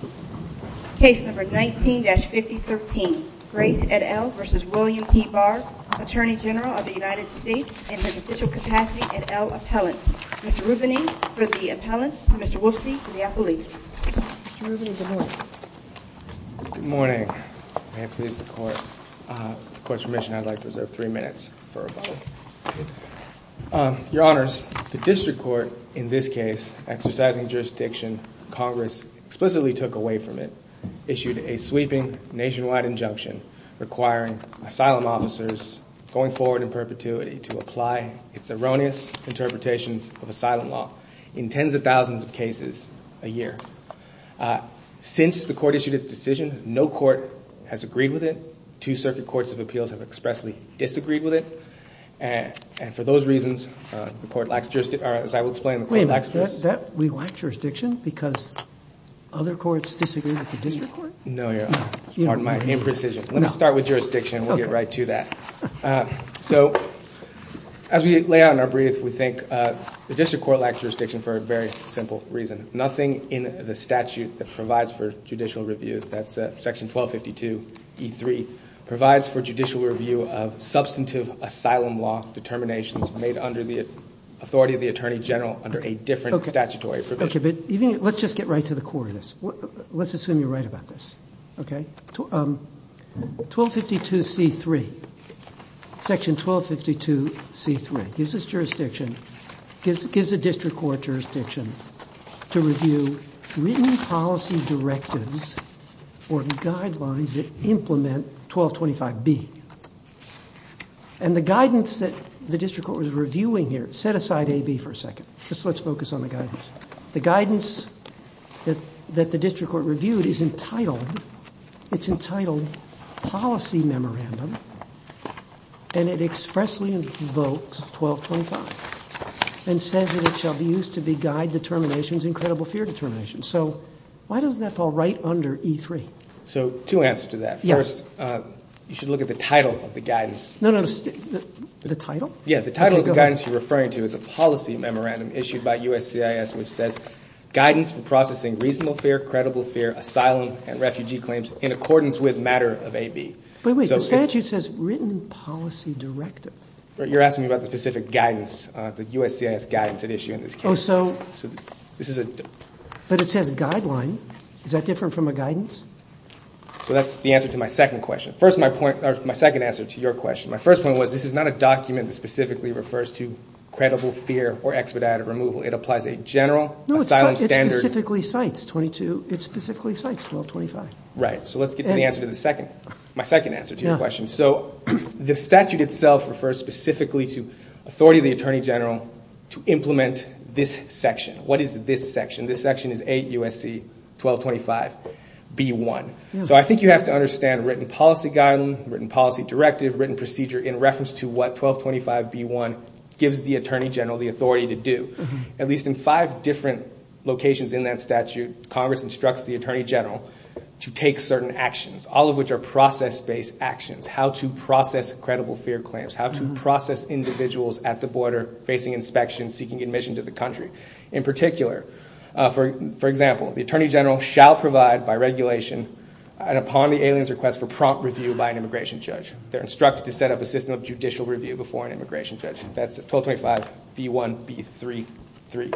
Attorney General of the United States and his official capacity et al. appellant, Mr. Rubini for the appellants and Mr. Wolfsey for the appellees. Mr. Rubini, good morning. Good morning. May it please the Court. With the Court's permission, I'd like to reserve three minutes for a vote. Your Honors, the District Court in this case, exercising jurisdiction, Congress explicitly took away from it, issued a sweeping nationwide injunction requiring asylum officers going forward in perpetuity to apply its erroneous interpretations of asylum law in tens of thousands of cases a year. Since the Court issued its decision, no court has agreed with it, two Circuit Courts of Appeals have expressly disagreed with it, and for those reasons, the Court lacks jurisdiction, or as I will explain, the Court lacks jurisdiction. We lack jurisdiction because other courts disagree with the District Court? No, Your Honor. Pardon my imprecision. Let me start with jurisdiction and we'll get right to that. As we lay out in our brief, we think the District Court lacks jurisdiction for a very simple reason. Nothing in the statute that provides for judicial review, that's section 1252E3, provides for judicial review of substantive asylum law determinations made under the authority of a different statutory provision. Let's just get right to the core of this. Let's assume you're right about this, okay? 1252C3, section 1252C3, gives us jurisdiction, gives the District Court jurisdiction to review written policy directives or guidelines that implement 1225B. And the guidance that the District Court was reviewing here, set aside AB for a second, just let's focus on the guidance. The guidance that the District Court reviewed is entitled, it's entitled Policy Memorandum, and it expressly invokes 1225, and says that it shall be used to be guide determinations in credible fear determinations. So why doesn't that fall right under E3? So two answers to that. First, you should look at the title of the guidance. No, no, no. The title? Yeah, the title of the guidance you're referring to is a policy memorandum issued by USCIS which says, guidance for processing reasonable fear, credible fear, asylum, and refugee claims in accordance with matter of AB. Wait, wait, the statute says written policy directive. You're asking me about the specific guidance, the USCIS guidance at issue in this case. But it says guideline. Is that different from a guidance? So that's the answer to my second question. First my point, or my second answer to your question. My first point was, this is not a document that specifically refers to credible fear or expedited removal. It applies a general asylum standard. No, it specifically cites 22, it specifically cites 1225. Right. So let's get to the answer to the second, my second answer to your question. So the statute itself refers specifically to authority of the Attorney General to implement this section. What is this section? This section is A, USC 1225, B, 1. So I think you have to understand written policy guideline, written policy directive, written procedure in reference to what 1225, B, 1 gives the Attorney General the authority to do. At least in five different locations in that statute, Congress instructs the Attorney General to take certain actions, all of which are process-based actions. How to process credible fear claims. How to process individuals at the border facing inspection, seeking admission to the country. In particular, for example, the Attorney General shall provide by regulation and upon the alien's request for prompt review by an immigration judge. They're instructed to set up a system of judicial review before an immigration judge. That's 1225, B, 1, B, 3, 3.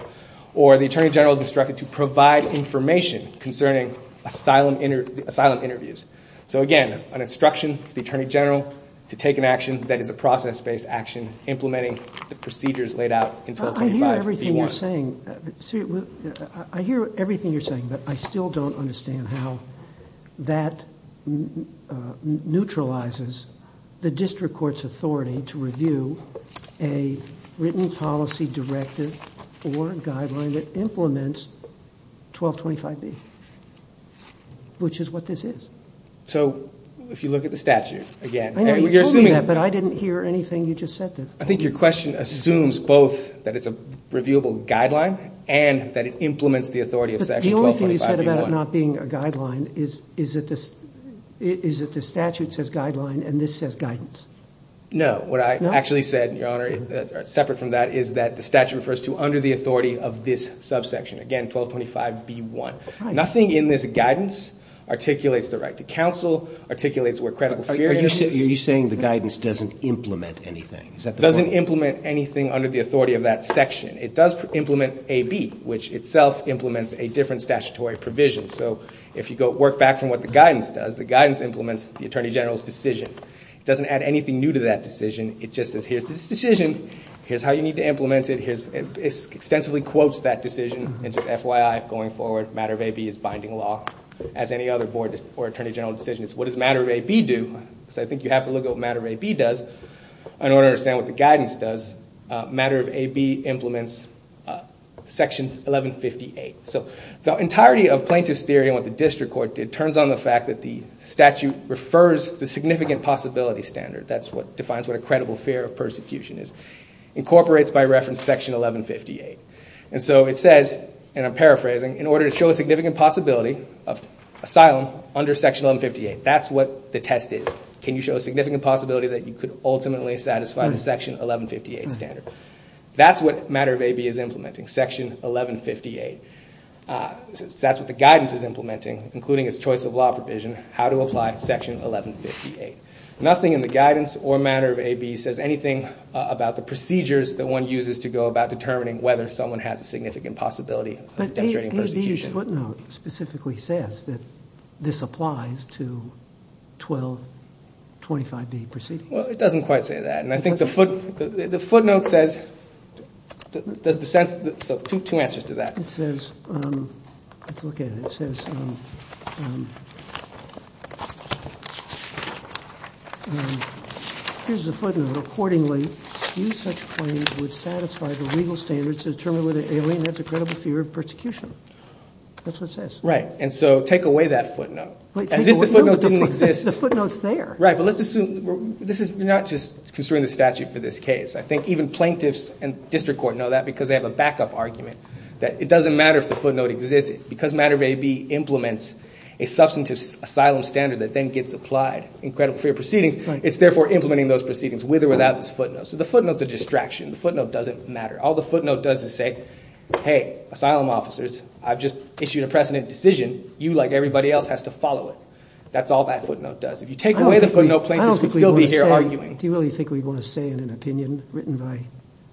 Or the Attorney General is instructed to provide information concerning asylum interviews. So again, an instruction to the Attorney General to take an action that is a process-based action implementing the procedures laid out in 1225, B, 1. I hear everything you're saying, but I still don't understand how that neutralizes the district court's authority to review a written policy directive or guideline that implements 1225, B, which is what this is. So if you look at the statute, again, you're assuming that. But I didn't hear anything you just said there. I think your question assumes both that it's a reviewable guideline and that it implements the authority of section 1225, B, 1. But the only thing you said about it not being a guideline is that the statute says guideline and this says guidance. No. What I actually said, Your Honor, separate from that, is that the statute refers to under the authority of this subsection, again, 1225, B, 1. is. Are you saying the guidance doesn't implement anything? It doesn't implement anything under the authority of that section. It does implement AB, which itself implements a different statutory provision. So if you work back from what the guidance does, the guidance implements the Attorney General's decision. It doesn't add anything new to that decision. It just says, here's this decision, here's how you need to implement it, it extensively quotes that decision, and just FYI, going forward, matter of AB is binding law, as any other board or Attorney General decision is. What does matter of AB do? So I think you have to look at what matter of AB does in order to understand what the guidance does. Matter of AB implements section 1158. So the entirety of plaintiff's theory and what the district court did turns on the fact that the statute refers to the significant possibility standard. That's what defines what a credible fear of persecution is. Incorporates by reference section 1158. And so it says, and I'm paraphrasing, in order to show a significant possibility of asylum under section 1158. That's what the test is. Can you show a significant possibility that you could ultimately satisfy the section 1158 standard? That's what matter of AB is implementing. Section 1158. That's what the guidance is implementing, including its choice of law provision, how to apply section 1158. Nothing in the guidance or matter of AB says anything about the procedures that one uses to go about determining whether someone has a significant possibility of demonstrating persecution. But the huge footnote specifically says that this applies to 1225B proceeding. Well, it doesn't quite say that. And I think the footnote says, does the sense, so two answers to that. It says, let's look at it. It says, here's the footnote. Accordingly, few such claims would satisfy the legal standards to determine whether the footnote exists. That's what it says. Right. And so take away that footnote. As if the footnote didn't exist. The footnote's there. Right. But let's assume, this is not just considering the statute for this case. I think even plaintiffs and district court know that because they have a backup argument that it doesn't matter if the footnote exists. Because matter of AB implements a substantive asylum standard that then gets applied in credible fear proceedings, it's therefore implementing those proceedings with or without this footnote. So the footnote's a distraction. The footnote doesn't matter. All the footnote does is say, hey, asylum officers, I've just issued a precedent decision. You like everybody else has to follow it. That's all that footnote does. If you take away the footnote, plaintiffs would still be here arguing. I don't think we want to say, do you really think we'd want to say in an opinion written by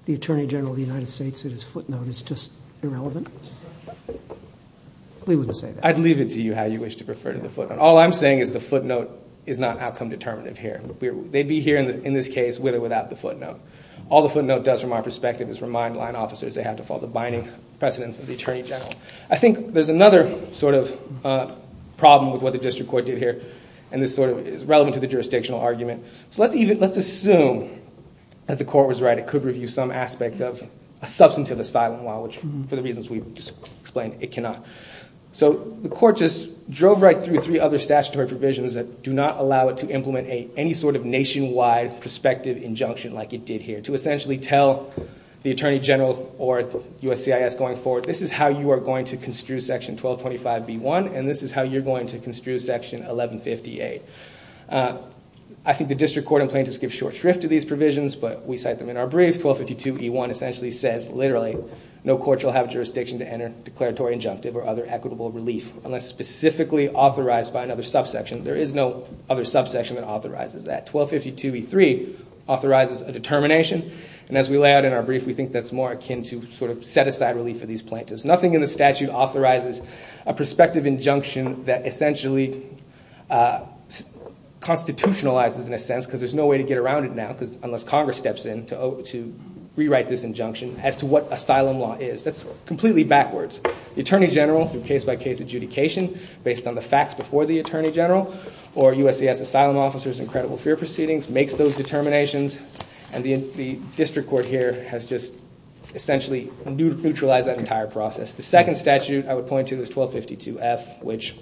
the Attorney General of the United States that his footnote is just irrelevant? We wouldn't say that. I'd leave it to you how you wish to refer to the footnote. All I'm saying is the footnote is not outcome determinative here. They'd be here in this case with or without the footnote. All the footnote does from our perspective is remind line officers they have to follow the binding precedents of the Attorney General. I think there's another sort of problem with what the district court did here. And this sort of is relevant to the jurisdictional argument. So let's assume that the court was right. It could review some aspect of a substantive asylum law, which for the reasons we've just explained, it cannot. So the court just drove right through three other statutory provisions that do not allow it to implement any sort of nationwide prospective injunction like it did here. To essentially tell the Attorney General or USCIS going forward, this is how you are going to construe section 1225B1, and this is how you're going to construe section 1150A. I think the district court in plaintiff's give short shrift to these provisions, but we cite them in our brief. 1252E1 essentially says, literally, no court shall have jurisdiction to enter declaratory injunctive or other equitable relief unless specifically authorized by another subsection. There is no other subsection that authorizes that. 1252E3 authorizes a determination. And as we lay out in our brief, we think that's more akin to sort of set aside relief for these plaintiffs. Nothing in the statute authorizes a prospective injunction that essentially constitutionalizes in a sense, because there's no way to get around it now, unless Congress steps in to rewrite this injunction as to what asylum law is. That's completely backwards. The Attorney General, through case-by-case adjudication based on the facts before the trial, or USC has asylum officers in credible fear proceedings, makes those determinations, and the district court here has just essentially neutralized that entire process. The second statute I would point to is 1252F, which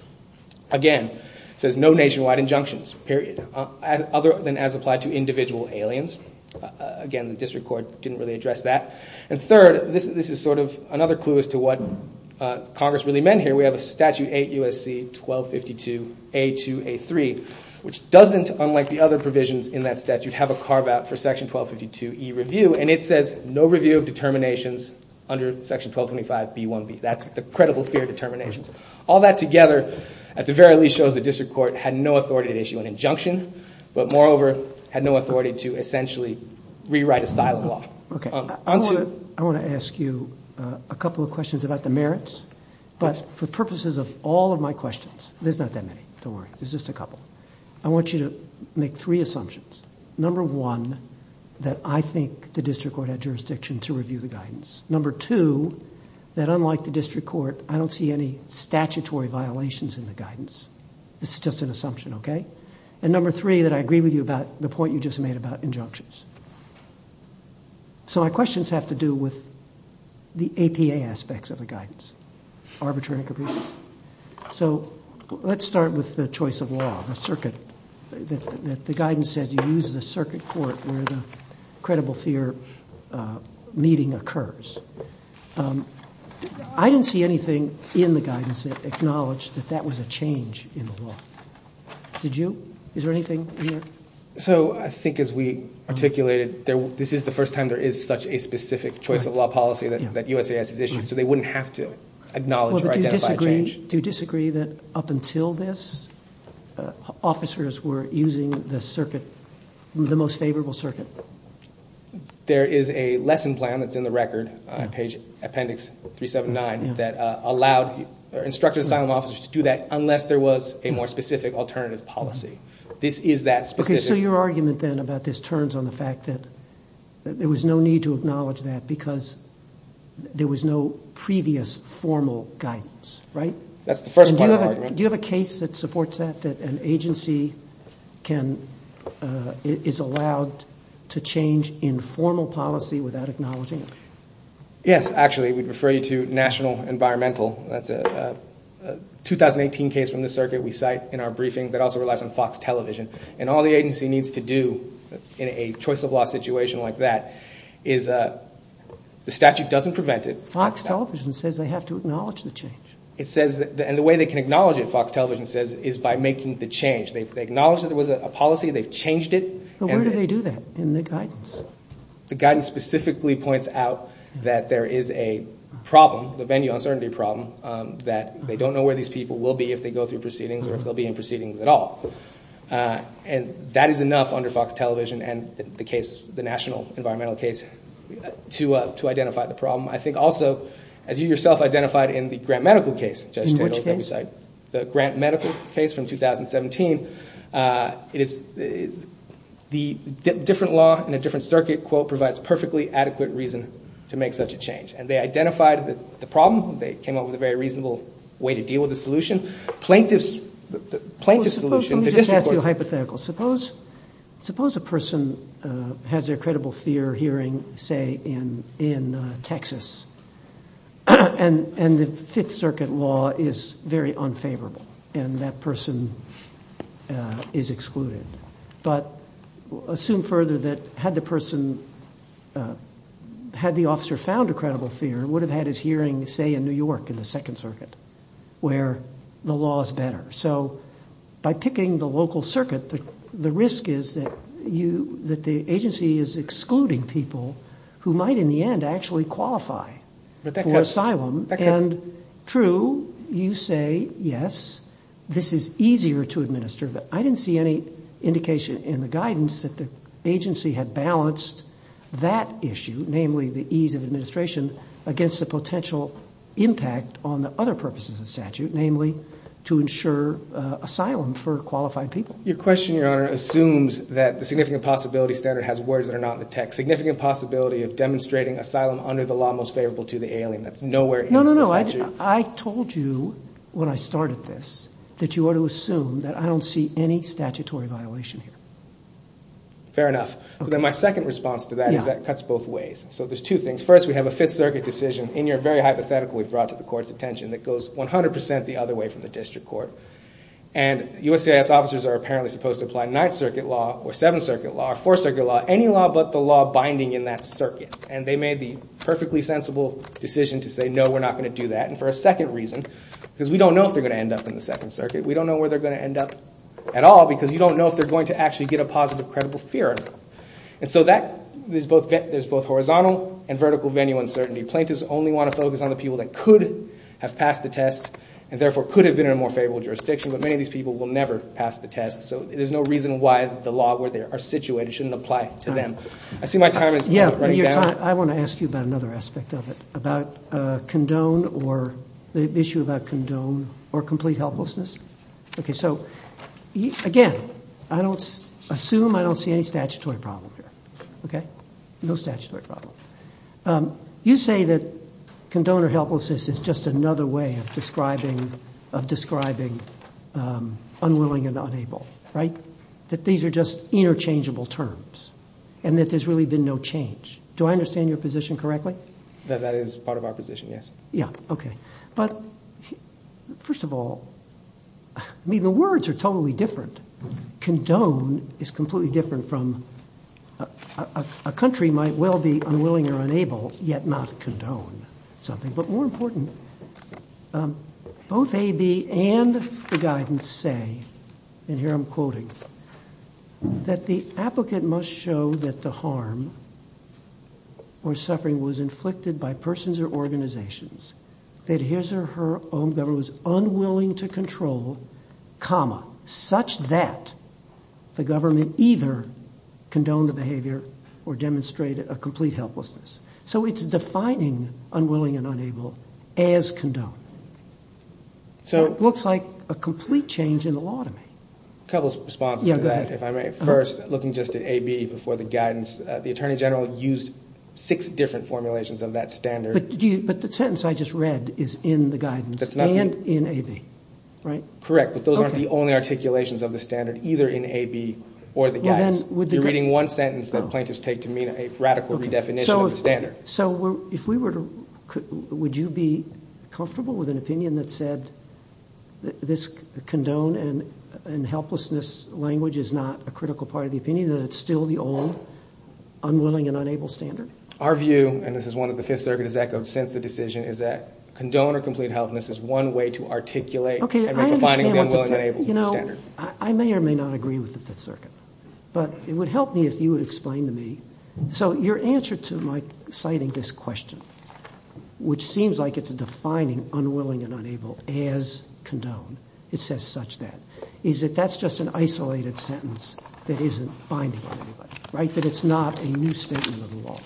again, says no nationwide injunctions, period. Other than as applied to individual aliens. Again, the district court didn't really address that. And third, this is sort of another clue as to what Congress really meant here. We have a statute 8 USC 1252A2A3, which doesn't, unlike the other provisions in that statute, have a carve-out for section 1252E review. And it says no review of determinations under section 1225B1B. That's the credible fear determinations. All that together, at the very least, shows the district court had no authority to issue an injunction, but moreover, had no authority to essentially rewrite asylum law. I want to ask you a couple of questions about the merits, but for purposes of all of my questions, there's not that many, don't worry, there's just a couple, I want you to make three assumptions. Number one, that I think the district court had jurisdiction to review the guidance. Number two, that unlike the district court, I don't see any statutory violations in the guidance. This is just an assumption, okay? And number three, that I agree with you about the point you just made about injunctions. So my questions have to do with the APA aspects of the guidance, arbitrary and capricious. So let's start with the choice of law, the circuit, that the guidance says you use the circuit court where the credible fear meeting occurs. I didn't see anything in the guidance that acknowledged that that was a change in the law. Did you? Is there anything in there? So I think as we articulated, this is the first time there is such a specific choice of law policy that USAS has issued, so they wouldn't have to acknowledge or identify a change. Do you disagree that up until this, officers were using the circuit, the most favorable circuit? There is a lesson plan that's in the record, page appendix 379, that allowed, instructed asylum officers to do that unless there was a more specific alternative policy. This is that specific. Okay, so your argument then about this turns on the fact that there was no need to acknowledge that because there was no previous formal guidance, right? That's the first part of the argument. Do you have a case that supports that, that an agency can, is allowed to change informal policy without acknowledging it? Yes, actually. We'd refer you to National Environmental. That's a 2018 case from the circuit we cite in our briefing that also relies on Fox Television. And all the agency needs to do in a choice of law situation like that is, the statute doesn't prevent it. Fox Television says they have to acknowledge the change. It says, and the way they can acknowledge it, Fox Television says, is by making the change. They've acknowledged that there was a policy, they've changed it. But where do they do that in the guidance? The guidance specifically points out that there is a problem, the venue uncertainty problem, that they don't know where these people will be if they go through proceedings or if they'll be in proceedings at all. And that is enough under Fox Television and the case, the National Environmental case, to identify the problem. I think also, as you yourself identified in the Grant Medical case, Judge Tindall's website, the Grant Medical case from 2017, the different law in a different circuit, quote, provides perfectly adequate reason to make such a change. And they identified the problem, they came up with a very reasonable way to deal with the solution. Plaintiffs, the plaintiff's solution, the district court's... Well, suppose, let me just ask you a hypothetical. Suppose a person has their credible fear hearing, say, in Texas, and the Fifth Circuit law is very unfavorable and that person is excluded. But assume further that had the person, had the officer found a credible fear, would have had his hearing, say, in New York in the Second Circuit, where the law is better. So by picking the local circuit, the risk is that the agency is excluding people who might in the end actually qualify for asylum. And true, you say, yes, this is easier to administer, but I didn't see any indication in the guidance that the agency had balanced that issue, namely the ease of administration, against the potential impact on the other purposes of the statute, namely to ensure asylum for qualified people. Your question, Your Honor, assumes that the significant possibility standard has words that are not in the text. Significant possibility of demonstrating asylum under the law most favorable to the alien. That's nowhere in the statute. No, no, no. I told you when I started this that you ought to assume that I don't see any statutory violation here. Fair enough. But then my second response to that is that cuts both ways. So there's two things. First, we have a Fifth Circuit decision in your very hypothetical we've brought to the Court's attention that goes 100% the other way from the district court. And USCIS officers are apparently supposed to apply Ninth Circuit law or Seventh Circuit law or Fourth Circuit law, any law but the law binding in that circuit. And they made the perfectly sensible decision to say, no, we're not going to do that. And for a second reason, because we don't know if they're going to end up in the Second Circuit. We don't know where they're going to end up at all because you don't know if they're going to actually get a positive credible fear. And so there's both horizontal and vertical venue uncertainty. Plaintiffs only want to focus on the people that could have passed the test and therefore could have been in a more favorable jurisdiction, but many of these people will never pass the test. So there's no reason why the law where they are situated shouldn't apply to them. I see my time is running out. I want to ask you about another aspect of it, about condone or the issue about condone or complete helplessness. Okay, so again, I don't assume I don't see any statutory problem here. Okay, no statutory problem. You say that condone or helplessness is just another way of describing unwilling and unable, right? That these are just interchangeable terms and that there's really been no change. Do I understand your position correctly? That that is part of our position, yes. Yeah, okay. But first of all, I mean, the words are totally different. Condone is completely different from a country might well be unwilling or unable yet not condone something, but more important, both AB and the guidance say, and here I'm quoting that the applicant must show that the harm or suffering was inflicted by persons or organizations that his or her own government was unwilling to control, such that the government either condone the behavior or demonstrate a complete helplessness. So it's defining unwilling and unable as condone. So it looks like a complete change in the law to me. A couple of responses to that, if I may. First, looking just at AB before the guidance, the attorney general used six different formulations of that standard. But the sentence I just read is in the guidance and in AB, right? Correct, but those aren't the only articulations of the standard, either in AB or the guidance. You're reading one sentence that plaintiffs take to mean a radical redefinition of the standard. So if we were to, would you be comfortable with an opinion that said this condone and helplessness language is not a critical part of the opinion and it's still the old unwilling and unable standard? Our view, and this is one of the Fifth Circuit has echoed since the decision, is that condone or complete helplessness is one way to articulate and redefine the unwilling and unable standard. I may or may not agree with the Fifth Circuit, but it would help me if you would explain to me. So your answer to my citing this question, which seems like it's defining unwilling and unable as condone, it says such that, is that that's just an isolated sentence that isn't binding on anybody, right? That it's not a new statement of the law.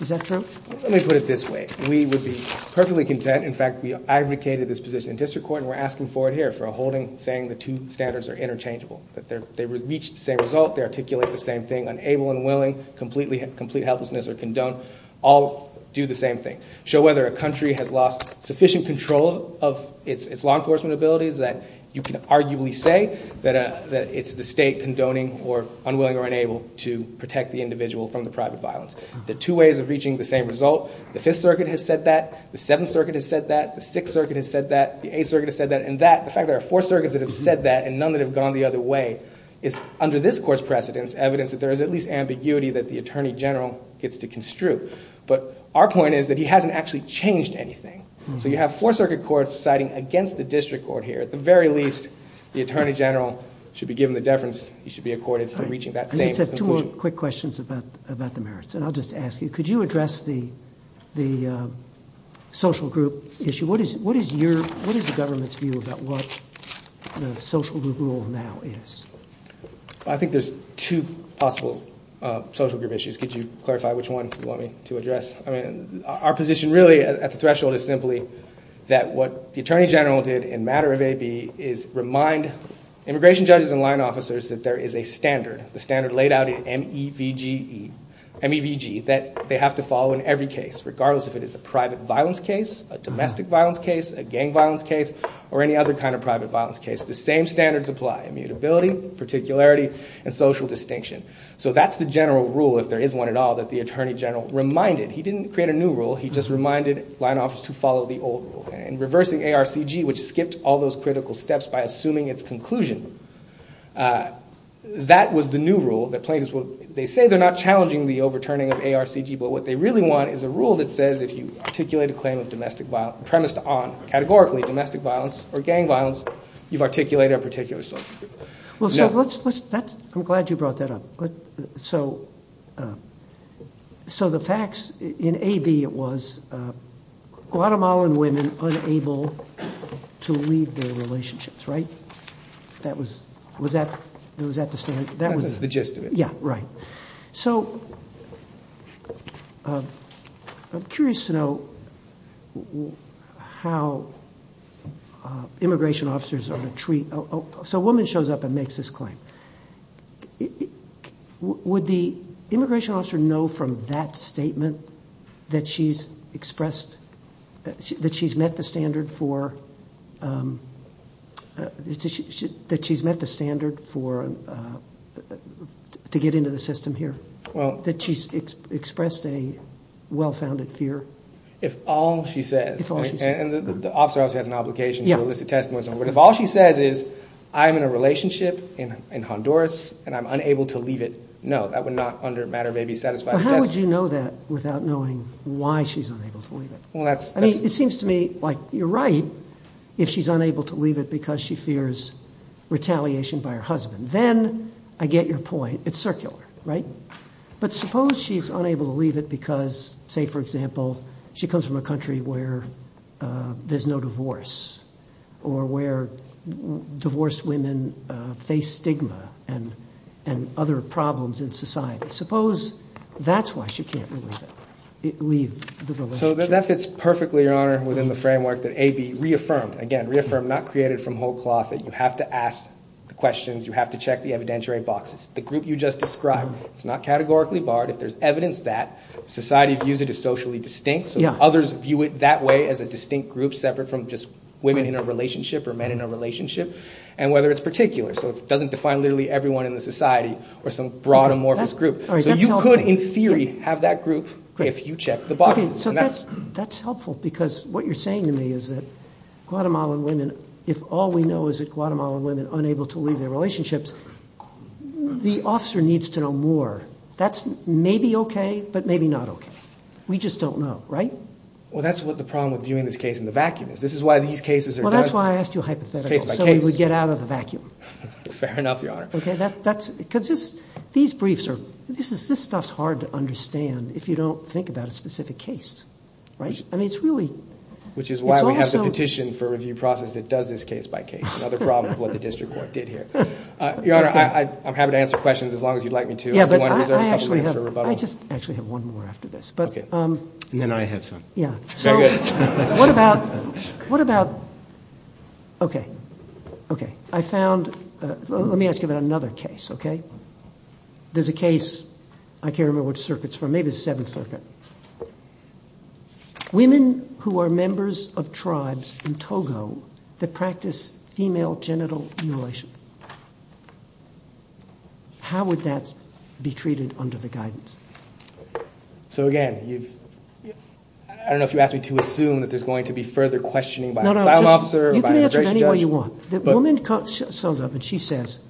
Is that true? Let me put it this way. We would be perfectly content, in fact, we advocated this position in district court and we're asking for it here, for a holding saying the two standards are interchangeable, that they reach the same result, they articulate the same thing, unable and willing, completely helplessness or condone, all do the same thing. Show whether a country has lost sufficient control of its law enforcement abilities that you can arguably say that it's the state condoning or unwilling or unable to protect the individual from the private violence. The two ways of reaching the same result, the Fifth Circuit has said that, the Seventh Circuit has said that, the Sixth Circuit has said that, the Eighth Circuit has said that, and that, the fact that there are four circuits that have said that and none that have gone the other way, is under this court's precedence evidence that there is at least ambiguity that the Attorney General gets to construe. But our point is that he hasn't actually changed anything. So you have four circuit courts citing against the district court here, at the very least, the Attorney General should be given the deference, he should be accorded for reaching that same conclusion. I just have two more quick questions about the merits and I'll just ask you, could you address the social group issue? What is the government's view about what the social group rule now is? I think there's two possible social group issues, could you clarify which one you want me to address? I mean, our position really at the threshold is simply that what the Attorney General did in matter of AB is remind immigration judges and line officers that there is a standard, the standard laid out in MEVG, that they have to follow in every case, regardless if it is a private violence case, a domestic violence case, a gang violence case, or any other kind of private violence case. The same standards apply, immutability, particularity, and social distinction. So that's the general rule, if there is one at all, that the Attorney General reminded. He didn't create a new rule, he just reminded line officers to follow the old rule. And reversing ARCG, which skipped all those critical steps by assuming its conclusion, that was the new rule that plaintiffs would, they say they're not challenging the overturning of ARCG, but what they really want is a rule that says if you articulate a claim of domestic violence, premised on, categorically, domestic violence or gang violence, you've articulated a particular sort of view. Well, sir, let's, let's, that's, I'm glad you brought that up, but, so, so the facts in AB was Guatemalan women unable to leave their relationships, right? That was, was that, was that the standard? That was the gist of it. Yeah, right. So, I'm curious to know how immigration officers are to treat, so a woman shows up and makes this claim. Would the immigration officer know from that statement that she's expressed, that she's met the standard for, to get into the system here, that she's expressed a well-founded fear? If all she says, and the officer also has an obligation to elicit testimony, but if all she says is, I'm in a relationship in Honduras and I'm unable to leave it, no, that would not, under matter of AB, satisfy the testimony. But how would you know that without knowing why she's unable to leave it? Well, that's, I mean, it seems to me like you're right if she's unable to leave it because she fears retaliation by her husband. Then I get your point, it's circular, right? But suppose she's unable to leave it because, say, for example, she comes from a country where there's no divorce or where divorced women face stigma and, and other problems in society. Suppose that's why she can't leave it, leave the relationship. So that fits perfectly, Your Honor, within the framework that AB reaffirmed, again, reaffirmed not created from whole cloth, that you have to ask the questions, you have to check the evidentiary boxes. The group you just described, it's not categorically barred. If there's evidence that society views it as socially distinct, so others view it that way as a distinct group separate from just women in a relationship or men in a relationship and whether it's particular. So it doesn't define literally everyone in the society or some broad amorphous group. So that's, that's helpful because what you're saying to me is that Guatemalan women, if all we know is that Guatemalan women unable to leave their relationships, the officer needs to know more. That's maybe okay, but maybe not okay. We just don't know. Right? Well, that's what the problem with viewing this case in the vacuum is. This is why these cases are done case by case. Well, that's why I asked you a hypothetical, so we would get out of the vacuum. Fair enough, Your Honor. Okay. That's because it's, these briefs are, this is, this stuff's hard to understand if you don't think about a specific case. Right? I mean, it's really, which is why we have the petition for review process that does this case by case. Another problem with what the district court did here. Your Honor, I, I'm happy to answer questions as long as you'd like me to. Yeah, but I actually have, I just actually have one more after this, but, and then I have some. Yeah. So what about, what about, okay, okay. I found, let me ask you about another case. Okay. There's a case, I can't remember which circuit it's from, maybe the Seventh Circuit. Women who are members of tribes in Togo that practice female genital mutilation. How would that be treated under the guidance? So again, you've, I don't know if you asked me to assume that there's going to be further questioning by an asylum officer or by an immigration judge. No, no, just, you can answer it any way you want. So the woman comes up and she says,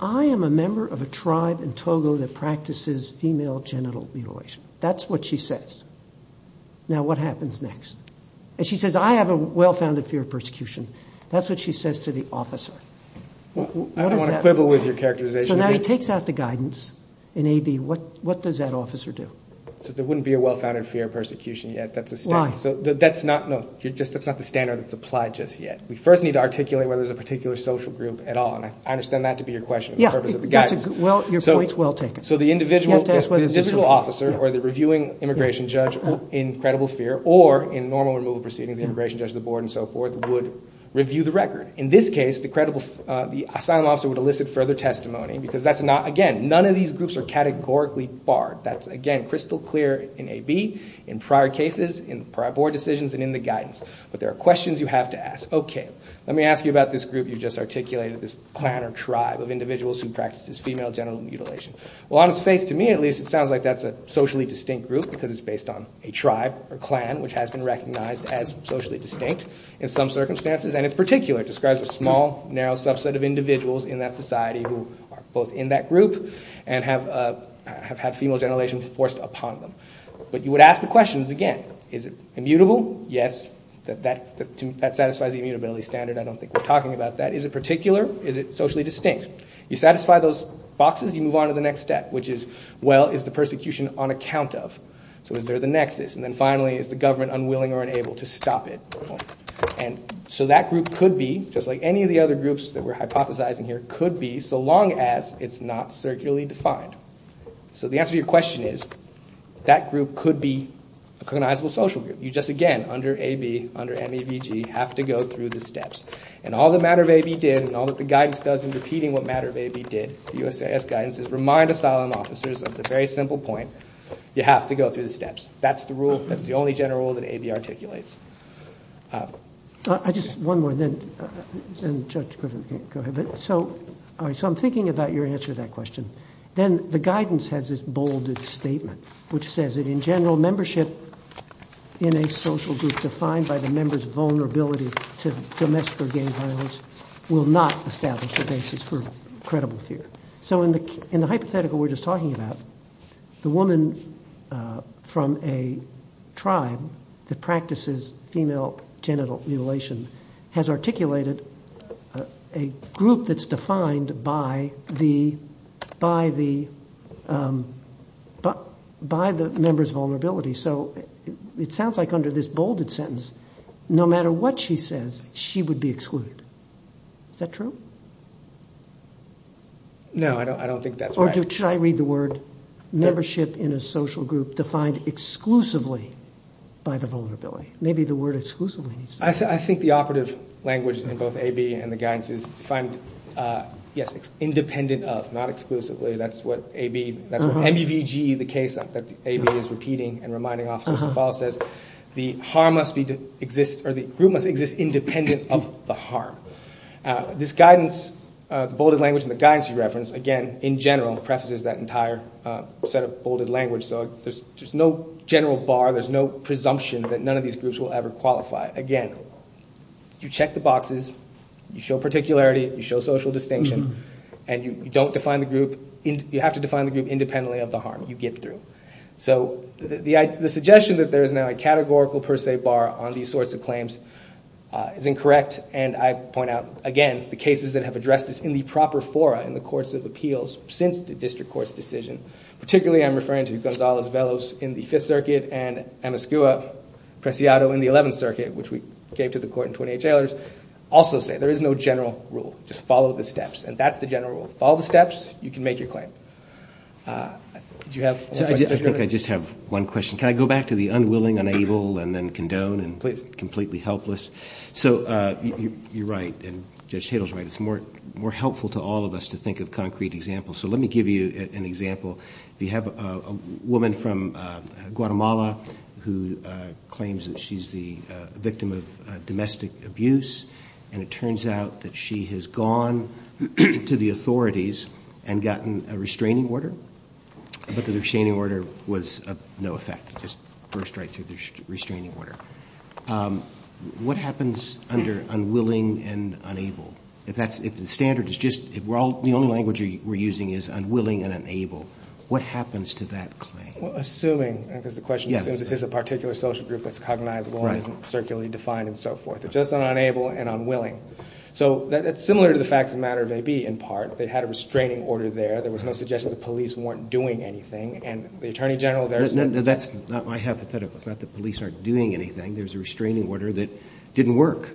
I am a member of a tribe in Togo that practices female genital mutilation. That's what she says. Now what happens next? And she says, I have a well-founded fear of persecution. That's what she says to the officer. What does that mean? I don't want to quibble with your characterization. So now he takes out the guidance in AB, what, what does that officer do? So there wouldn't be a well-founded fear of persecution yet. That's a standard. Why? So that's not, no, you're just, that's not the standard that's applied just yet. We first need to articulate whether there's a particular social group at all. And I understand that to be your question for the purpose of the guidance. Well, your point's well taken. So the individual, the individual officer or the reviewing immigration judge in credible fear or in normal removal proceedings, the immigration judge, the board and so forth would review the record. In this case, the credible, the asylum officer would elicit further testimony because that's not, again, none of these groups are categorically barred. That's again, crystal clear in AB, in prior cases, in prior board decisions and in the guidance. But there are questions you have to ask. Okay. Let me ask you about this group you just articulated, this clan or tribe of individuals who practice this female genital mutilation. Well, on its face to me, at least, it sounds like that's a socially distinct group because it's based on a tribe or clan, which has been recognized as socially distinct in some circumstances. And it's particular, describes a small, narrow subset of individuals in that society who are both in that group and have, have had female genital mutilation forced upon them. But you would ask the questions again. Is it immutable? Yes. That, that, that satisfies the immutability standard, I don't think we're talking about that. Is it particular? Is it socially distinct? You satisfy those boxes, you move on to the next step, which is, well, is the persecution on account of? So is there the nexus? And then finally, is the government unwilling or unable to stop it? And so that group could be, just like any of the other groups that we're hypothesizing here, could be, so long as it's not circularly defined. So the answer to your question is, that group could be a cognizable social group. You just, again, under AB, under MEVG, have to go through the steps. And all that Matter of AB did, and all that the guidance does in repeating what Matter of AB did, the USIS guidance, is remind asylum officers of the very simple point. You have to go through the steps. That's the rule. That's the only general rule that AB articulates. I just, one more, then, and Judge Griffith, go ahead, but, so, all right, so I'm thinking about your answer to that question. Then the guidance has this bolded statement, which says that, in general, membership in a social group defined by the member's vulnerability to domestic or gang violence will not establish the basis for credible fear. So in the hypothetical we were just talking about, the woman from a tribe that practices female genital mutilation has articulated a group that's defined by the member's vulnerability. So it sounds like under this bolded sentence, no matter what she says, she would be excluded. Is that true? No, I don't think that's right. Or should I read the word, membership in a social group defined exclusively by the vulnerability? Maybe the word exclusively needs to be used. I think the operative language in both AB and the guidance is defined, yes, independent of, not exclusively, that's what AB, that's what MBVG, the case that AB is repeating and reminding officers to follow, says, the harm must be, exists, or the group must exist independent of the harm. This guidance, the bolded language and the guidance you referenced, again, in general, prefaces that entire set of bolded language, so there's just no general bar, there's no general bar that these groups will ever qualify. Again, you check the boxes, you show particularity, you show social distinction, and you don't define the group, you have to define the group independently of the harm you get through. So the suggestion that there is now a categorical per se bar on these sorts of claims is incorrect and I point out, again, the cases that have addressed this in the proper fora in the courts of appeals since the district court's decision, particularly I'm referring to Gonzalez-Veloz in the 5th Circuit and Amos Goua-Preciado in the 11th Circuit, which we gave to the court in 28 tailors, also say there is no general rule, just follow the steps, and that's the general rule. Follow the steps, you can make your claim. Did you have one question? I think I just have one question. Can I go back to the unwilling, unable, and then condone, and completely helpless? So you're right, and Judge Tatel's right, it's more helpful to all of us to think of concrete examples. So let me give you an example. If you have a woman from Guatemala who claims that she's the victim of domestic abuse and it turns out that she has gone to the authorities and gotten a restraining order, but the restraining order was of no effect, just burst right through the restraining order. What happens under unwilling and unable? If the standard is just, the only language we're using is unwilling and unable, what happens to that claim? Well, assuming, because the question assumes this is a particular social group that's cognizable and isn't circularly defined and so forth, it's just an unable and unwilling. So that's similar to the facts of the matter of AB in part, they had a restraining order there, there was no suggestion the police weren't doing anything, and the Attorney General there said- No, that's not my hypothetical. It's not that police aren't doing anything, there's a restraining order that didn't work.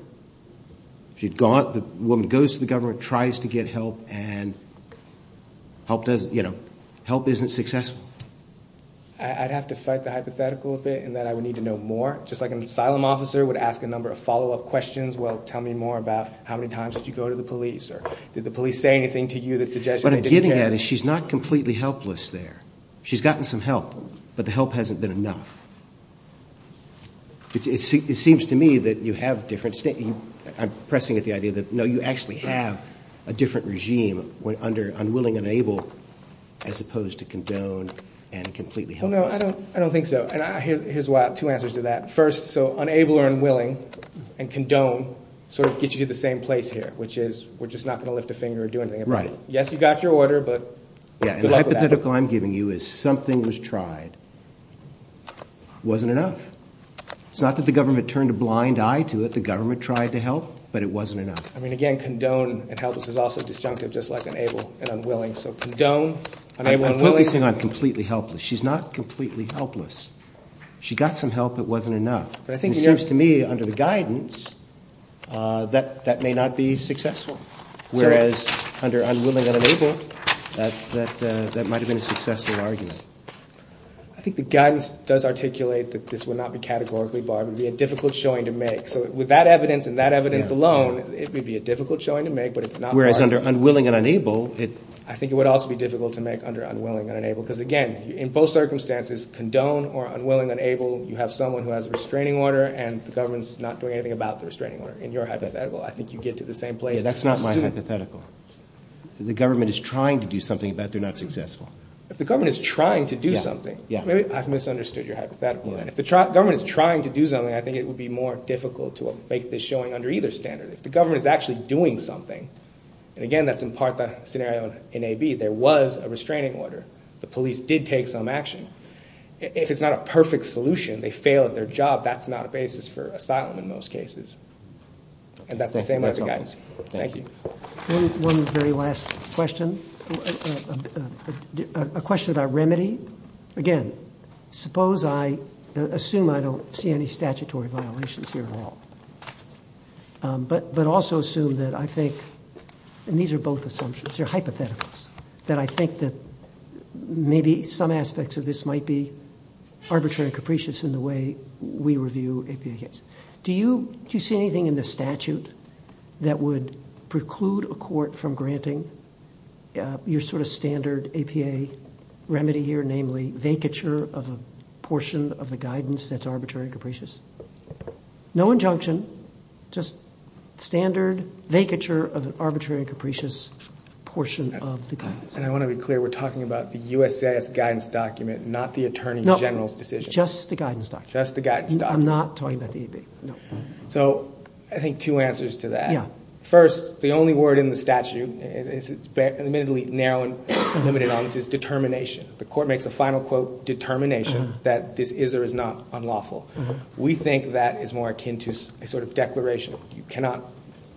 She'd gone, the woman goes to the government, tries to get help, and help doesn't, you know, help isn't successful. I'd have to fight the hypothetical a bit in that I would need to know more. Just like an asylum officer would ask a number of follow-up questions, well, tell me more about how many times did you go to the police, or did the police say anything to you that suggested they didn't care? What I'm getting at is she's not completely helpless there. She's gotten some help, but the help hasn't been enough. It seems to me that you have different, I'm pressing at the idea that, no, you actually have a different regime under unwilling and able as opposed to condone and completely helpless. Well, no, I don't think so. And here's why, two answers to that. First, so, unable or unwilling, and condone sort of gets you to the same place here, which is we're just not going to lift a finger or do anything about it. Right. Yes, you got your order, but good luck with that. The hypothetical I'm giving you is something was tried, wasn't enough. It's not that the government turned a blind eye to it, the government tried to help, but it wasn't enough. I mean, again, condone and helpless is also disjunctive, just like unable and unwilling. So condone, unable and willing. I'm focusing on completely helpless. She's not completely helpless. She got some help, but it wasn't enough. But I think, you know- It seems to me, under the guidance, that that may not be successful, whereas under unwilling and unable, that might have been a successful argument. I think the guidance does articulate that this would not be categorically barred. It would be a difficult showing to make. So with that evidence and that evidence alone, it would be a difficult showing to make, but it's not barred. Whereas under unwilling and unable, it- I think it would also be difficult to make under unwilling and unable, because again, in both circumstances, condone or unwilling, unable, you have someone who has a restraining order and the government's not doing anything about the restraining order. In your hypothetical, I think you get to the same place. Yeah, that's not my hypothetical. If the government is trying to do something about it, they're not successful. If the government is trying to do something- Yeah, yeah. Maybe I've misunderstood your hypothetical. If the government is trying to do something, I think it would be more difficult to make this showing under either standard. If the government is actually doing something, and again, that's in part the scenario in AB, there was a restraining order. The police did take some action. If it's not a perfect solution, they fail at their job, that's not a basis for asylum in most cases. And that's the same as the guidance. Thank you. One very last question, a question about remedy. Again, suppose I assume I don't see any statutory violations here at all, but also assume that I think, and these are both assumptions, they're hypotheticals, that I think that maybe some aspects of this might be arbitrary and capricious in the way we review APA cases. Do you see anything in the statute that would preclude a court from granting your standard APA remedy here, namely vacature of a portion of the guidance that's arbitrary and capricious? No injunction, just standard vacature of an arbitrary and capricious portion of the guidance. And I want to be clear, we're talking about the USAS guidance document, not the Attorney General's decision. Just the guidance document. I'm not talking about the APA, no. So I think two answers to that. First, the only word in the statute, it's admittedly narrow and limited on, is determination. The court makes a final quote, determination, that this is or is not unlawful. We think that is more akin to a sort of declaration. You cannot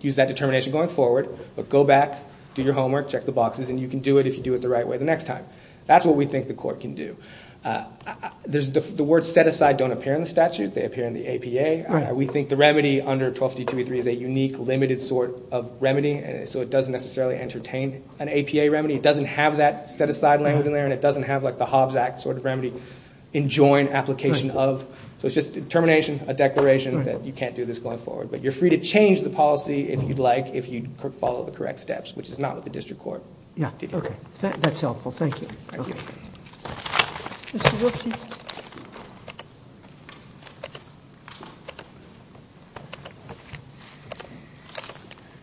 use that determination going forward, but go back, do your homework, check the boxes, and you can do it if you do it the right way the next time. That's what we think the court can do. The words set aside don't appear in the statute, they appear in the APA. We think the remedy under 1252.3 is a unique, limited sort of remedy, so it doesn't necessarily entertain an APA remedy. It doesn't have that set aside language in there, and it doesn't have the Hobbs Act sort of remedy, enjoin application of. So it's just determination, a declaration that you can't do this going forward. But you're free to change the policy if you'd like, if you follow the correct steps, which is not what the district court did here. That's helpful. Thank you. Mr. Wapsie.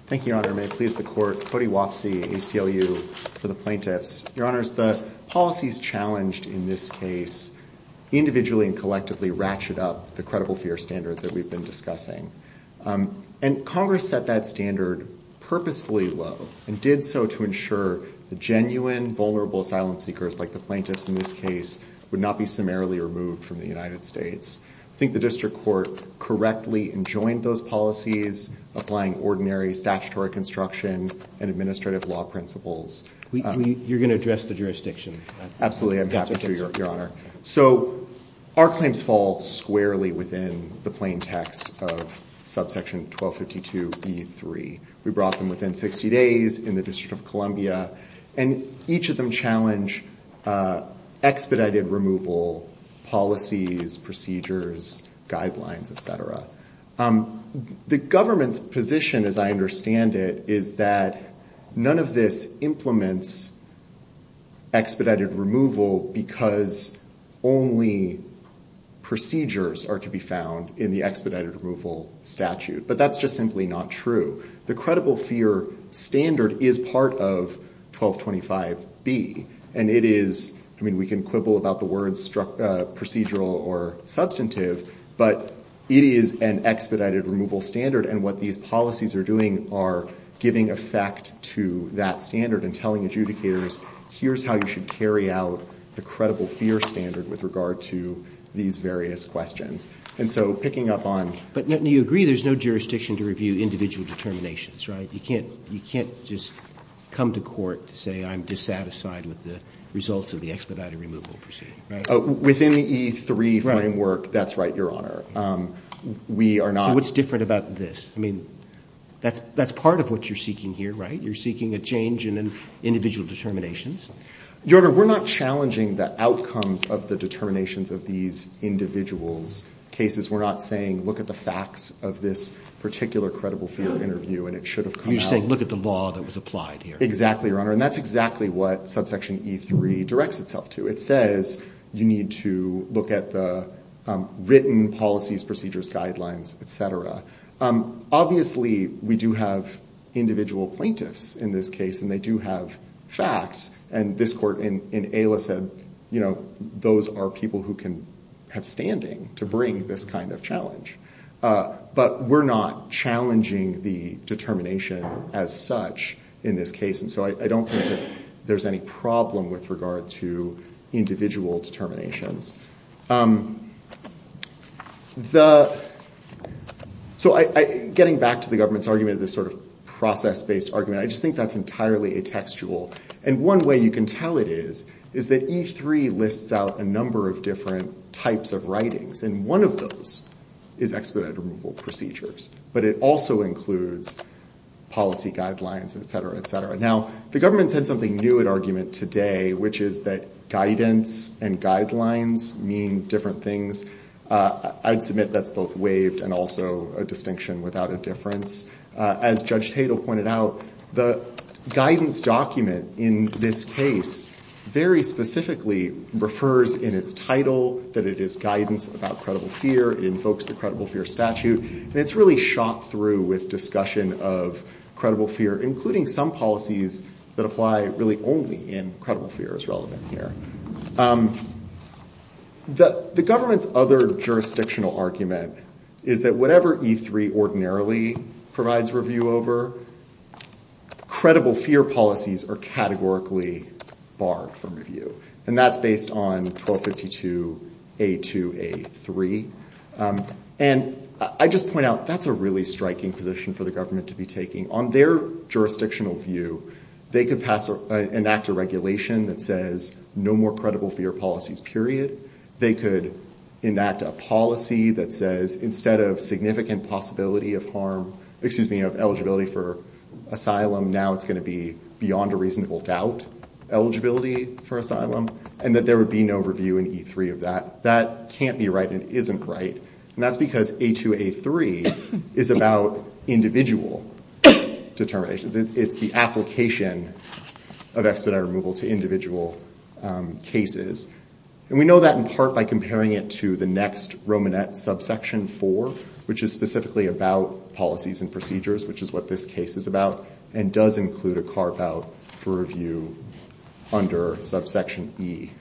Thank you, Your Honor. May it please the court, Cody Wapsie, ACLU, for the plaintiffs. Your Honors, the policies challenged in this case individually and collectively ratchet up the credible fear standard that we've been discussing. And Congress set that standard purposefully low, and did so to ensure the genuine, vulnerable asylum seekers, like the plaintiffs in this case, would not be summarily removed from the United States. I think the district court correctly enjoined those policies, applying ordinary statutory construction and administrative law principles. You're going to address the jurisdiction? Absolutely, I'm happy to, Your Honor. So our claims fall squarely within the plain text of subsection 1252.3. We brought them within 60 days in the District of Columbia, and each of them challenge expedited removal policies, procedures, guidelines, et cetera. The government's position, as I understand it, is that none of this implements expedited removal because only procedures are to be found in the expedited removal statute. But that's just simply not true. The credible fear standard is part of 1225B, and it is, I mean, we can quibble about the words procedural or substantive, but it is an expedited removal standard, and what these policies are doing are giving effect to that standard and telling adjudicators, here's how you should carry out the credible fear standard with regard to these various questions. And so picking up on – But you agree there's no jurisdiction to review individual determinations, right? You can't just come to court to say I'm dissatisfied with the results of the expedited removal procedure, right? Within the E3 framework, that's right, Your Honor. We are not – So what's different about this? I mean, that's part of what you're seeking here, right? You're seeking a change in individual determinations? Your Honor, we're not challenging the outcomes of the determinations of these individuals' cases. We're not saying look at the facts of this particular credible fear interview and it should have come out. You're saying look at the law that was applied here. Exactly, Your Honor. And that's exactly what subsection E3 directs itself to. It says you need to look at the written policies, procedures, guidelines, et cetera. Obviously, we do have individual plaintiffs in this case and they do have facts. And this court in AILA said those are people who can have standing to bring this kind of challenge. But we're not challenging the determination as such in this case. And so I don't think that there's any problem with regard to individual determinations. So getting back to the government's argument of this sort of process-based argument, I just think that's entirely a textual. And one way you can tell it is, is that E3 lists out a number of different types of writings. And one of those is expedited removal procedures. But it also includes policy guidelines, et cetera, et cetera. Now, the government said something new at argument today, which is that guidance and guidelines, mean different things. I'd submit that's both waived and also a distinction without a difference. As Judge Tatel pointed out, the guidance document in this case very specifically refers in its title that it is guidance about credible fear. It invokes the credible fear statute. And it's really shot through with discussion of credible fear, including some policies that apply really only in credible fear is relevant here. The government's other jurisdictional argument is that whatever E3 ordinarily provides review over, credible fear policies are categorically barred from review. And that's based on 1252A2A3. And I just point out, that's a really striking position for the government to be taking. On their jurisdictional view, they could pass or enact a regulation that says, no more credible fear policies, period. They could enact a policy that says, instead of significant possibility of harm, excuse me, of eligibility for asylum, now it's going to be beyond a reasonable doubt eligibility for asylum. And that there would be no review in E3 of that. That can't be right and isn't right. And that's because A2A3 is about individual determinations. It's the application of expedited removal to individual cases. And we know that in part by comparing it to the next Romanet subsection 4, which is specifically about policies and procedures, which is what this case is about, and does include a carve out for review under subsection E.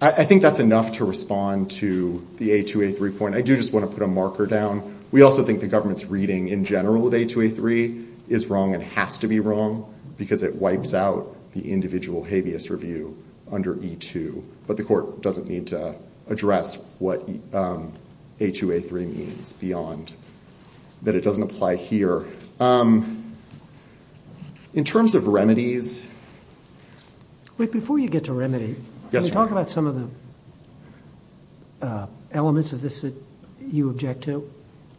I think that's enough to respond to the A2A3 point. I do just want to put a marker down. We also think the government's reading in general of A2A3 is wrong and has to be wrong because it wipes out the individual habeas review under E2. But the court doesn't need to address what A2A3 means beyond that it doesn't apply here. In terms of remedies... Wait, before you get to remedy, can you talk about some of the elements of this that you object to?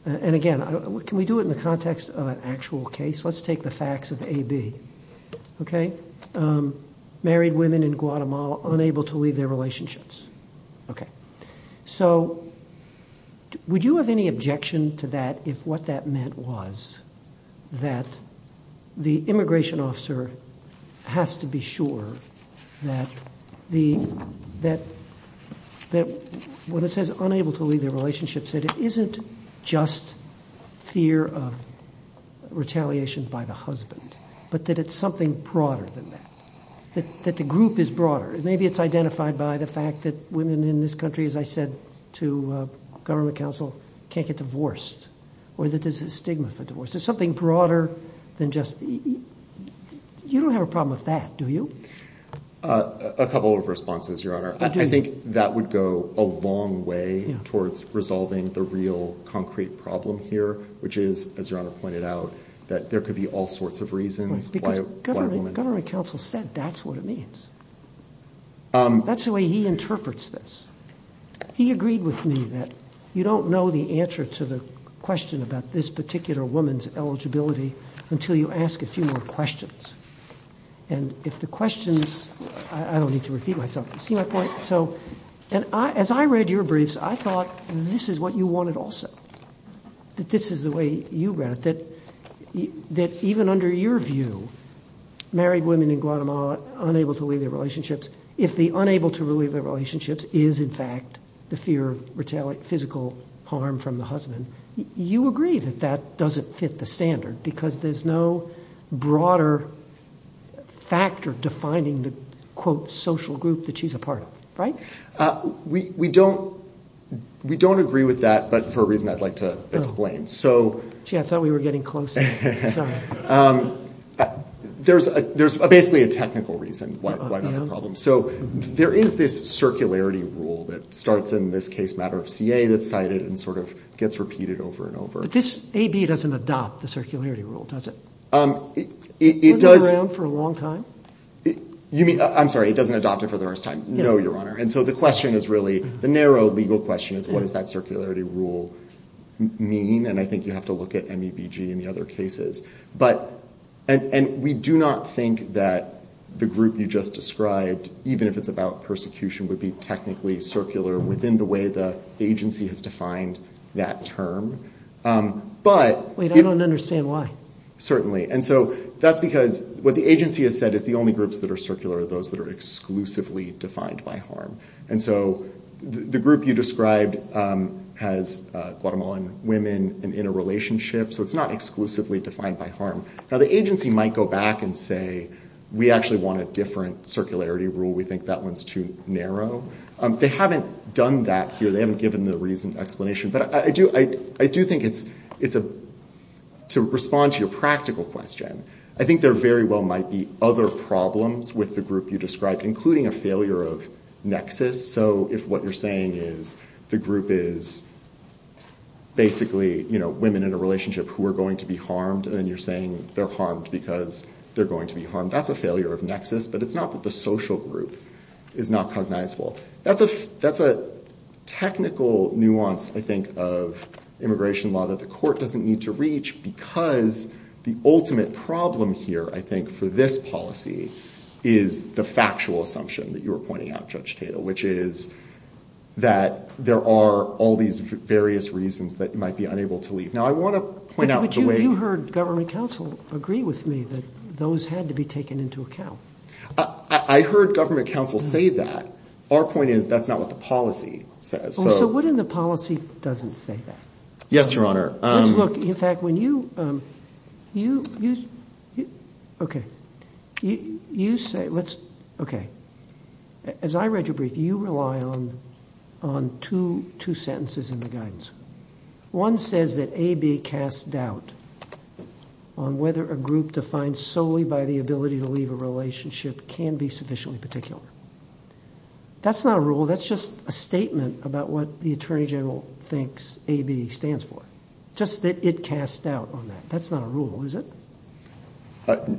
And again, can we do it in the context of an actual case? Let's take the facts of AB. Okay. Married women in Guatemala unable to leave their relationships. Okay. So would you have any objection to that if what that meant was that the immigration officer has to be sure that the... Just fear of retaliation by the husband, but that it's something broader than that. That the group is broader. Maybe it's identified by the fact that women in this country, as I said to government counsel, can't get divorced or that there's a stigma for divorce. There's something broader than just... You don't have a problem with that, do you? A couple of responses, Your Honor. I think that would go a long way towards resolving the real concrete problem here, which is, as Your Honor pointed out, that there could be all sorts of reasons why a woman... Because government counsel said that's what it means. That's the way he interprets this. He agreed with me that you don't know the answer to the question about this particular woman's eligibility until you ask a few more questions. And if the questions... I don't need to repeat myself. You see my point? As I read your briefs, I thought this is what you wanted also. That this is the way you read it. That even under your view, married women in Guatemala unable to leave their relationships, if the unable to leave their relationships is, in fact, the fear of physical harm from the husband, you agree that that doesn't fit the standard because there's no broader factor of defining the, quote, social group that she's a part of, right? We don't agree with that, but for a reason I'd like to explain. Gee, I thought we were getting close. Sorry. There's basically a technical reason why that's a problem. So there is this circularity rule that starts in this case matter of CA that's cited and sort of gets repeated over and over. But this AB doesn't adopt the circularity rule, does it? It does... Has it been around for a long time? I'm sorry, it doesn't adopt it for the first time. No, Your Honour. And so the question is really, the narrow legal question is, what does that circularity rule mean? And I think you have to look at MEBG and the other cases. But... And we do not think that the group you just described, even if it's about persecution, would be technically circular within the way the agency has defined that term. But... Wait, I don't understand why. Certainly. And so that's because what the agency has said is the only groups that are circular are those that are exclusively defined by harm. And so the group you described has Guatemalan women in a relationship, so it's not exclusively defined by harm. Now, the agency might go back and say, we actually want a different circularity rule. We think that one's too narrow. They haven't done that here. They haven't given the reason, explanation. But I do think it's a... To respond to your practical question, I think there very well might be other problems with the group you described, including a failure of nexus. So if what you're saying is the group is basically, you know, women in a relationship who are going to be harmed, and you're saying they're harmed because they're going to be harmed, that's a failure of nexus. But it's not that the social group is not cognizable. That's a technical nuance, I think, of immigration law that the court doesn't need to reach, because the ultimate problem here, I think, for this policy is the factual assumption that you were pointing out, Judge Tatel, which is that there are all these various reasons that you might be unable to leave. Now, I want to point out the way... But you heard government counsel agree with me that those had to be taken into account. I heard government counsel say that. Our point is, that's not what the policy says. Oh, so what if the policy doesn't say that? Yes, Your Honor. Let's look. In fact, when you... You... You... Okay. You say... Let's... Okay. As I read your brief, you rely on two sentences in the guidance. One says that AB casts doubt on whether a group defined solely by the ability to leave a relationship can be sufficiently particular. That's not a rule. That's just a statement about what the Attorney General thinks AB stands for. Just that it casts doubt on that. That's not a rule, is it?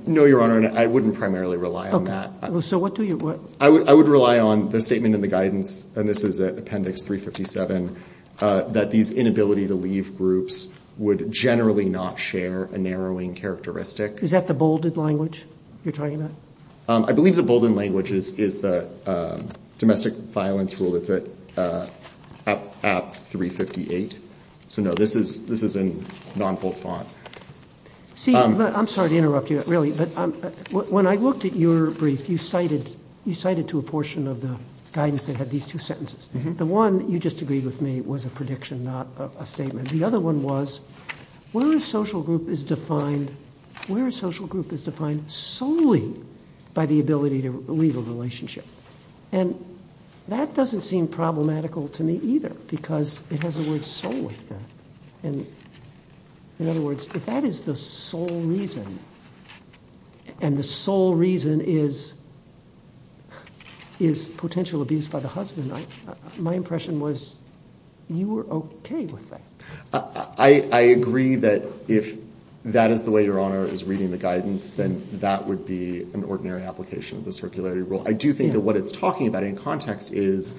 No, Your Honor, and I wouldn't primarily rely on that. So what do you... I would rely on the statement in the guidance, and this is Appendix 357, that these inability to leave groups would generally not share a narrowing characteristic. Is that the bolded language you're talking about? I believe the bolded language is the domestic violence rule that's at App 358. So no, this is in non-bold font. See, I'm sorry to interrupt you, really, but when I looked at your brief, you cited to a portion of the guidance that had these two sentences. The one you just agreed with me was a prediction, not a statement. The other one was, where a social group is defined... Where a social group is defined solely by the ability to leave a relationship. And that doesn't seem problematical to me either, because it has the word solely. And in other words, if that is the sole reason, and the sole reason is... is potential abuse by the husband, my impression was you were okay with that. I agree that if that is the way Your Honor is reading the guidance, then that would be an ordinary application of the circularity rule. I do think that what it's talking about in context is,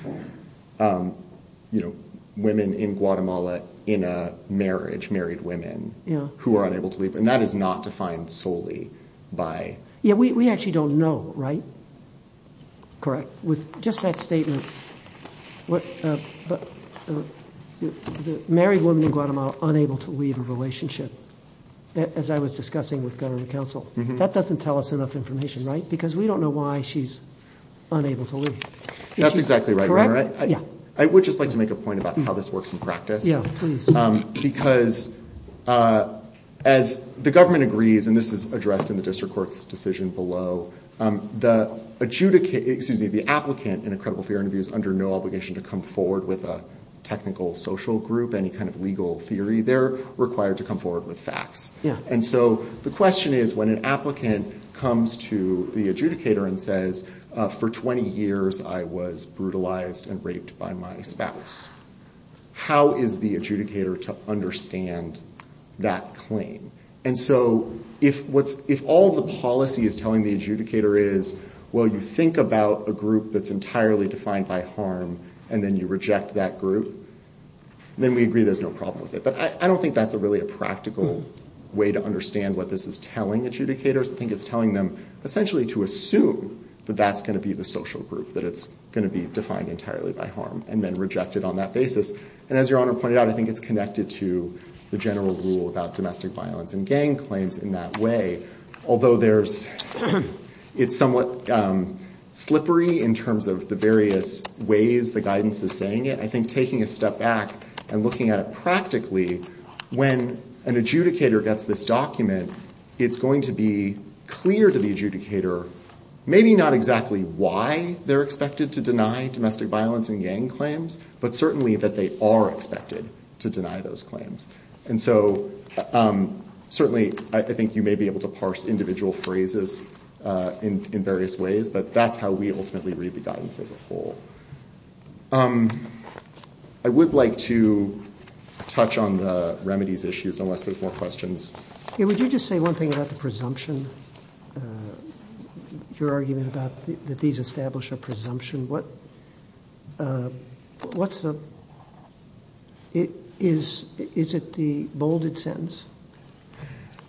you know, women in Guatemala in a marriage, married women, who are unable to leave. And that is not defined solely by... Yeah, we actually don't know, right? With just that statement... Married women in Guatemala unable to leave a relationship, as I was discussing with gubernatorial counsel. That doesn't tell us enough information, right? Because we don't know why she's unable to leave. That's exactly right, Your Honor. I would just like to make a point about how this works in practice. Yeah, please. Because as the government agrees, and this is addressed in the district court's decision below, the adjudicate, excuse me, the applicant in a credible fear interview is under no obligation to come forward with a technical social group, any kind of legal theory. They're required to come forward with facts. And so the question is, when an applicant comes to the adjudicator and says, for 20 years I was brutalized and raped by my spouse, how is the adjudicator to understand that claim? And so if all the policy is telling the adjudicator is, well, you think about a group that's entirely defined by harm and then you reject that group, then we agree there's no problem with it. But I don't think that's really a practical way to understand what this is telling adjudicators. I think it's telling them essentially to assume that that's going to be the social group, that it's going to be defined entirely by harm and then rejected on that basis. And as Your Honor pointed out, I think it's connected to the general rule about domestic violence and gang claims in that way. Although it's somewhat slippery in terms of the various ways the guidance is saying it, I think taking a step back and looking at it practically when an adjudicator gets this document, it's going to be clear to the adjudicator maybe not exactly why they're expected to deny domestic violence and gang claims, but certainly that they are expected to deny those claims. And so certainly I think you may be able to parse individual phrases in various ways, but that's how we ultimately read the guidance as a whole. I would like to touch on the remedies issues unless there's more questions. Yeah, would you just say one thing about the presumption, your argument about that these establish a presumption? What's the... Is it the bolded sentence?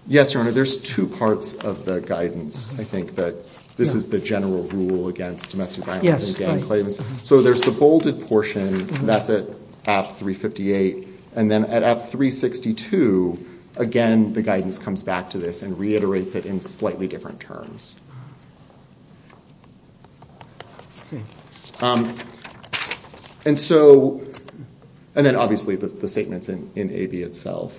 Yes, Your Honor. There's two parts of the guidance, I think, that this is the general rule against domestic violence and gang claims. So there's the bolded portion that's at AF 358 and then at AF 362 again the guidance comes back to this and reiterates it in slightly different terms. And so... And then obviously the statements in AB itself.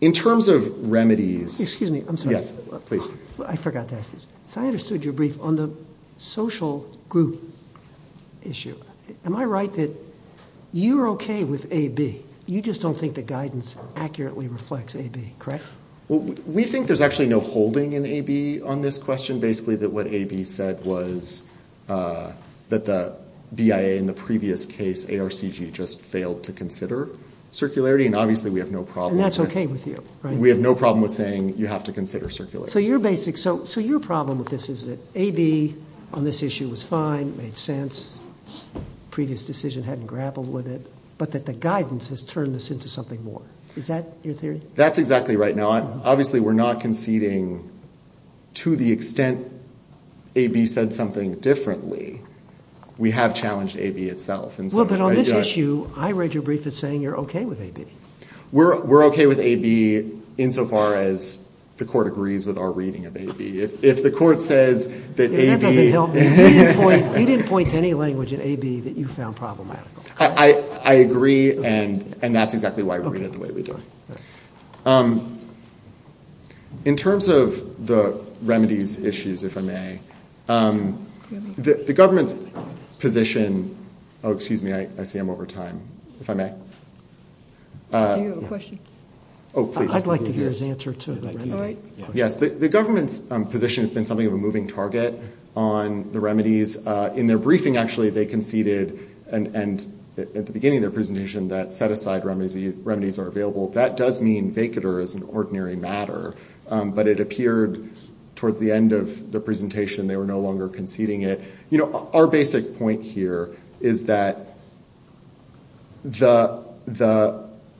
In terms of remedies... Excuse me, I'm sorry. Yes, please. I forgot to ask this. So I understood your brief on the social group issue. Am I right that you're okay with AB? You just don't think the guidance accurately reflects AB, correct? We think there's actually no holding in AB on this question. Basically that what AB said was that the BIA in the previous case, ARCG, just failed to consider circularity and obviously we have no problem... And that's okay with you, right? We have no problem with saying you have to consider circularity. So your basic... That AB on this issue was fine, made sense, previous decision hadn't grappled with it, but that the guidance has turned this into something more. Is that your theory? That's exactly right. Now obviously we're not conceding to the extent AB said something differently. We have challenged AB itself. Well, but on this issue I read your brief as saying you're okay with AB. We're okay with AB insofar as the court agrees with our reading of AB. If the court says that AB... That doesn't help me. He didn't point to any language in AB that you found problematical. I agree and that's exactly why we read it the way we do. In terms of the remedies issues, if I may, the government's position... Oh, excuse me, I see I'm over time, if I may. Do you have a question? Oh, please. I'd like to hear his answer too. Yes, the government's position has been something of a moving target on the remedies. In their briefing, actually, they conceded and at the beginning of their presentation that set-aside remedies are available. That does mean vacater is an ordinary matter but it appeared towards the end of the presentation they were no longer conceding it. You know, our basic point here is that the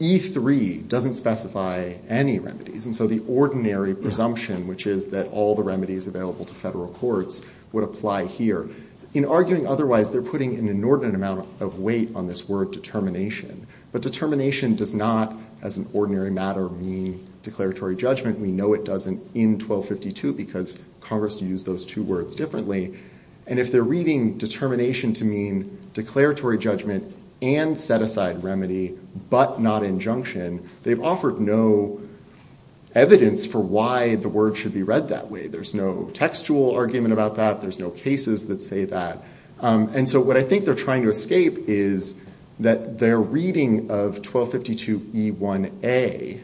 E3 doesn't specify any remedies and so the ordinary presumption which is that all the remedies available to federal courts would apply here. In arguing otherwise, they're putting an inordinate amount of weight on this word determination but determination does not, as an ordinary matter, mean declaratory judgment. We know it doesn't in 1252 because Congress used those two words differently and if they're reading determination to mean declaratory judgment and set-aside remedy but not injunction, they've offered no evidence for why the word should be read that way. There's no textual argument about that, there's no cases that say that and so what I think they're trying to escape is that their reading of 1252 E1A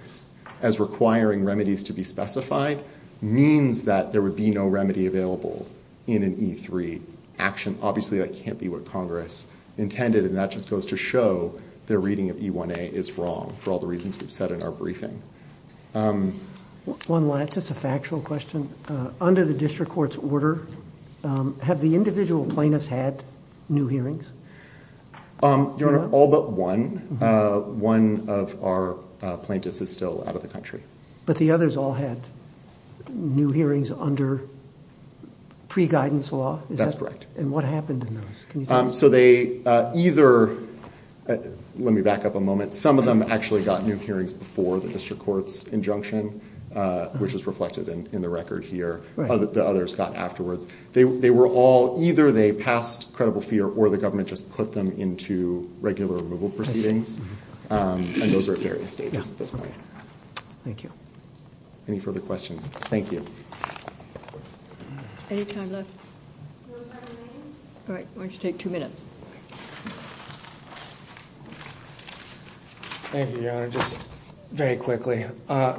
as requiring remedies to be specified means that there would be no remedy available action. Obviously, that can't be what Congress intended and that just goes to show their reading of E1A is wrong for all the reasons we've said in our briefing. One last, just a factual question. Under the district court's order, have the individual plaintiffs had new hearings? Your Honor, all but one. One of our plaintiffs is still out of the country. But the others all had new hearings under pre-guidance law? That's correct. And what happened in those? So they either, let me back up a moment, some of them actually got new hearings before the district court's injunction, which is reflected in the record here. The others got afterwards. They were all, either they passed credible fear or the government just put them into regular removal proceedings and those are at various stages at this point. Thank you. Any further questions? Thank you. Any time left? All right, why don't you take two minutes. Thank you, Your Honor. Just very quickly.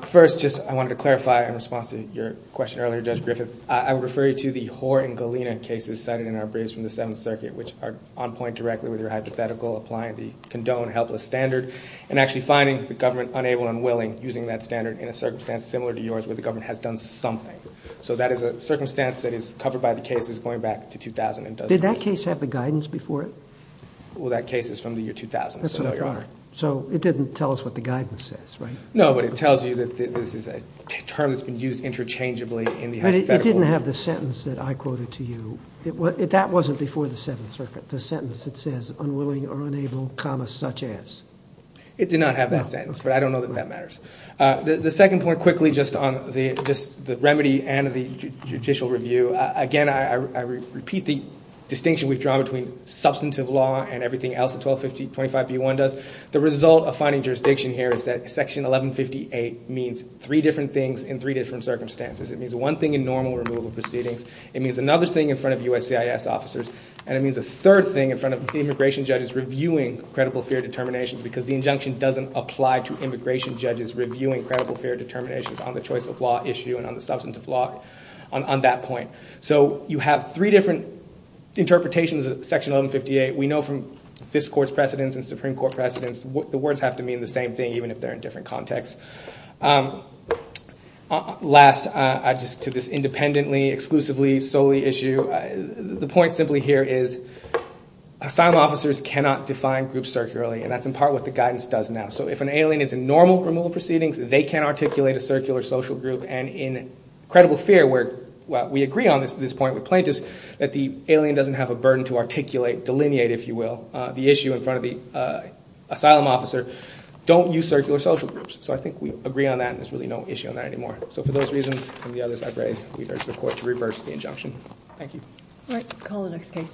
First, just, I wanted to clarify in response to your question earlier, Judge Griffith. I would refer you to the Hoar and Galena cases cited in our briefs from the Seventh Circuit, which are on point directly with your hypothetical applying the condoned helpless standard and actually finding the government unable and it didn't tell us what the guidance says, right? No, but it tells you that this is a term that's been used interchangeably in the hypothetical. But it didn't have the sentence that I quoted to you. That wasn't before the Seventh Circuit, the sentence that says unwilling or unable comma such as. It did not have that sentence, but I don't know that that matters. The second point quickly, just on the remedy and the judicial review. Again, I repeat the distinction we've drawn between substantive law and everything else that 125025B1 does. The result of finding jurisdiction here is that section 1158 means three different things in three different contexts. It doesn't apply to immigration judges reviewing credible fair determinations on the choice of law issue and on the substantive law on that point. So you have three different interpretations of section 1158. We know from Fisk Court's precedence and Supreme Court's precedence that there are different contexts. Last, just to this independently exclusively solely issue, the point simply here is asylum officers cannot define groups circularly and that's in part what the guidance does now. So if an alien is in normal removal proceedings they can articulate a circular social group and in credible fair where we agree on this point with plaintiffs that the alien doesn't have a burden to articulate delineate if you will the issue in front of the asylum officer don't use circular social groups. So I think we agree on that and there's really no issue on that anymore. So for those reasons and the others I've raised we urge the court to reverse the injunction. Thank you. Alright, call the next case. Thank you.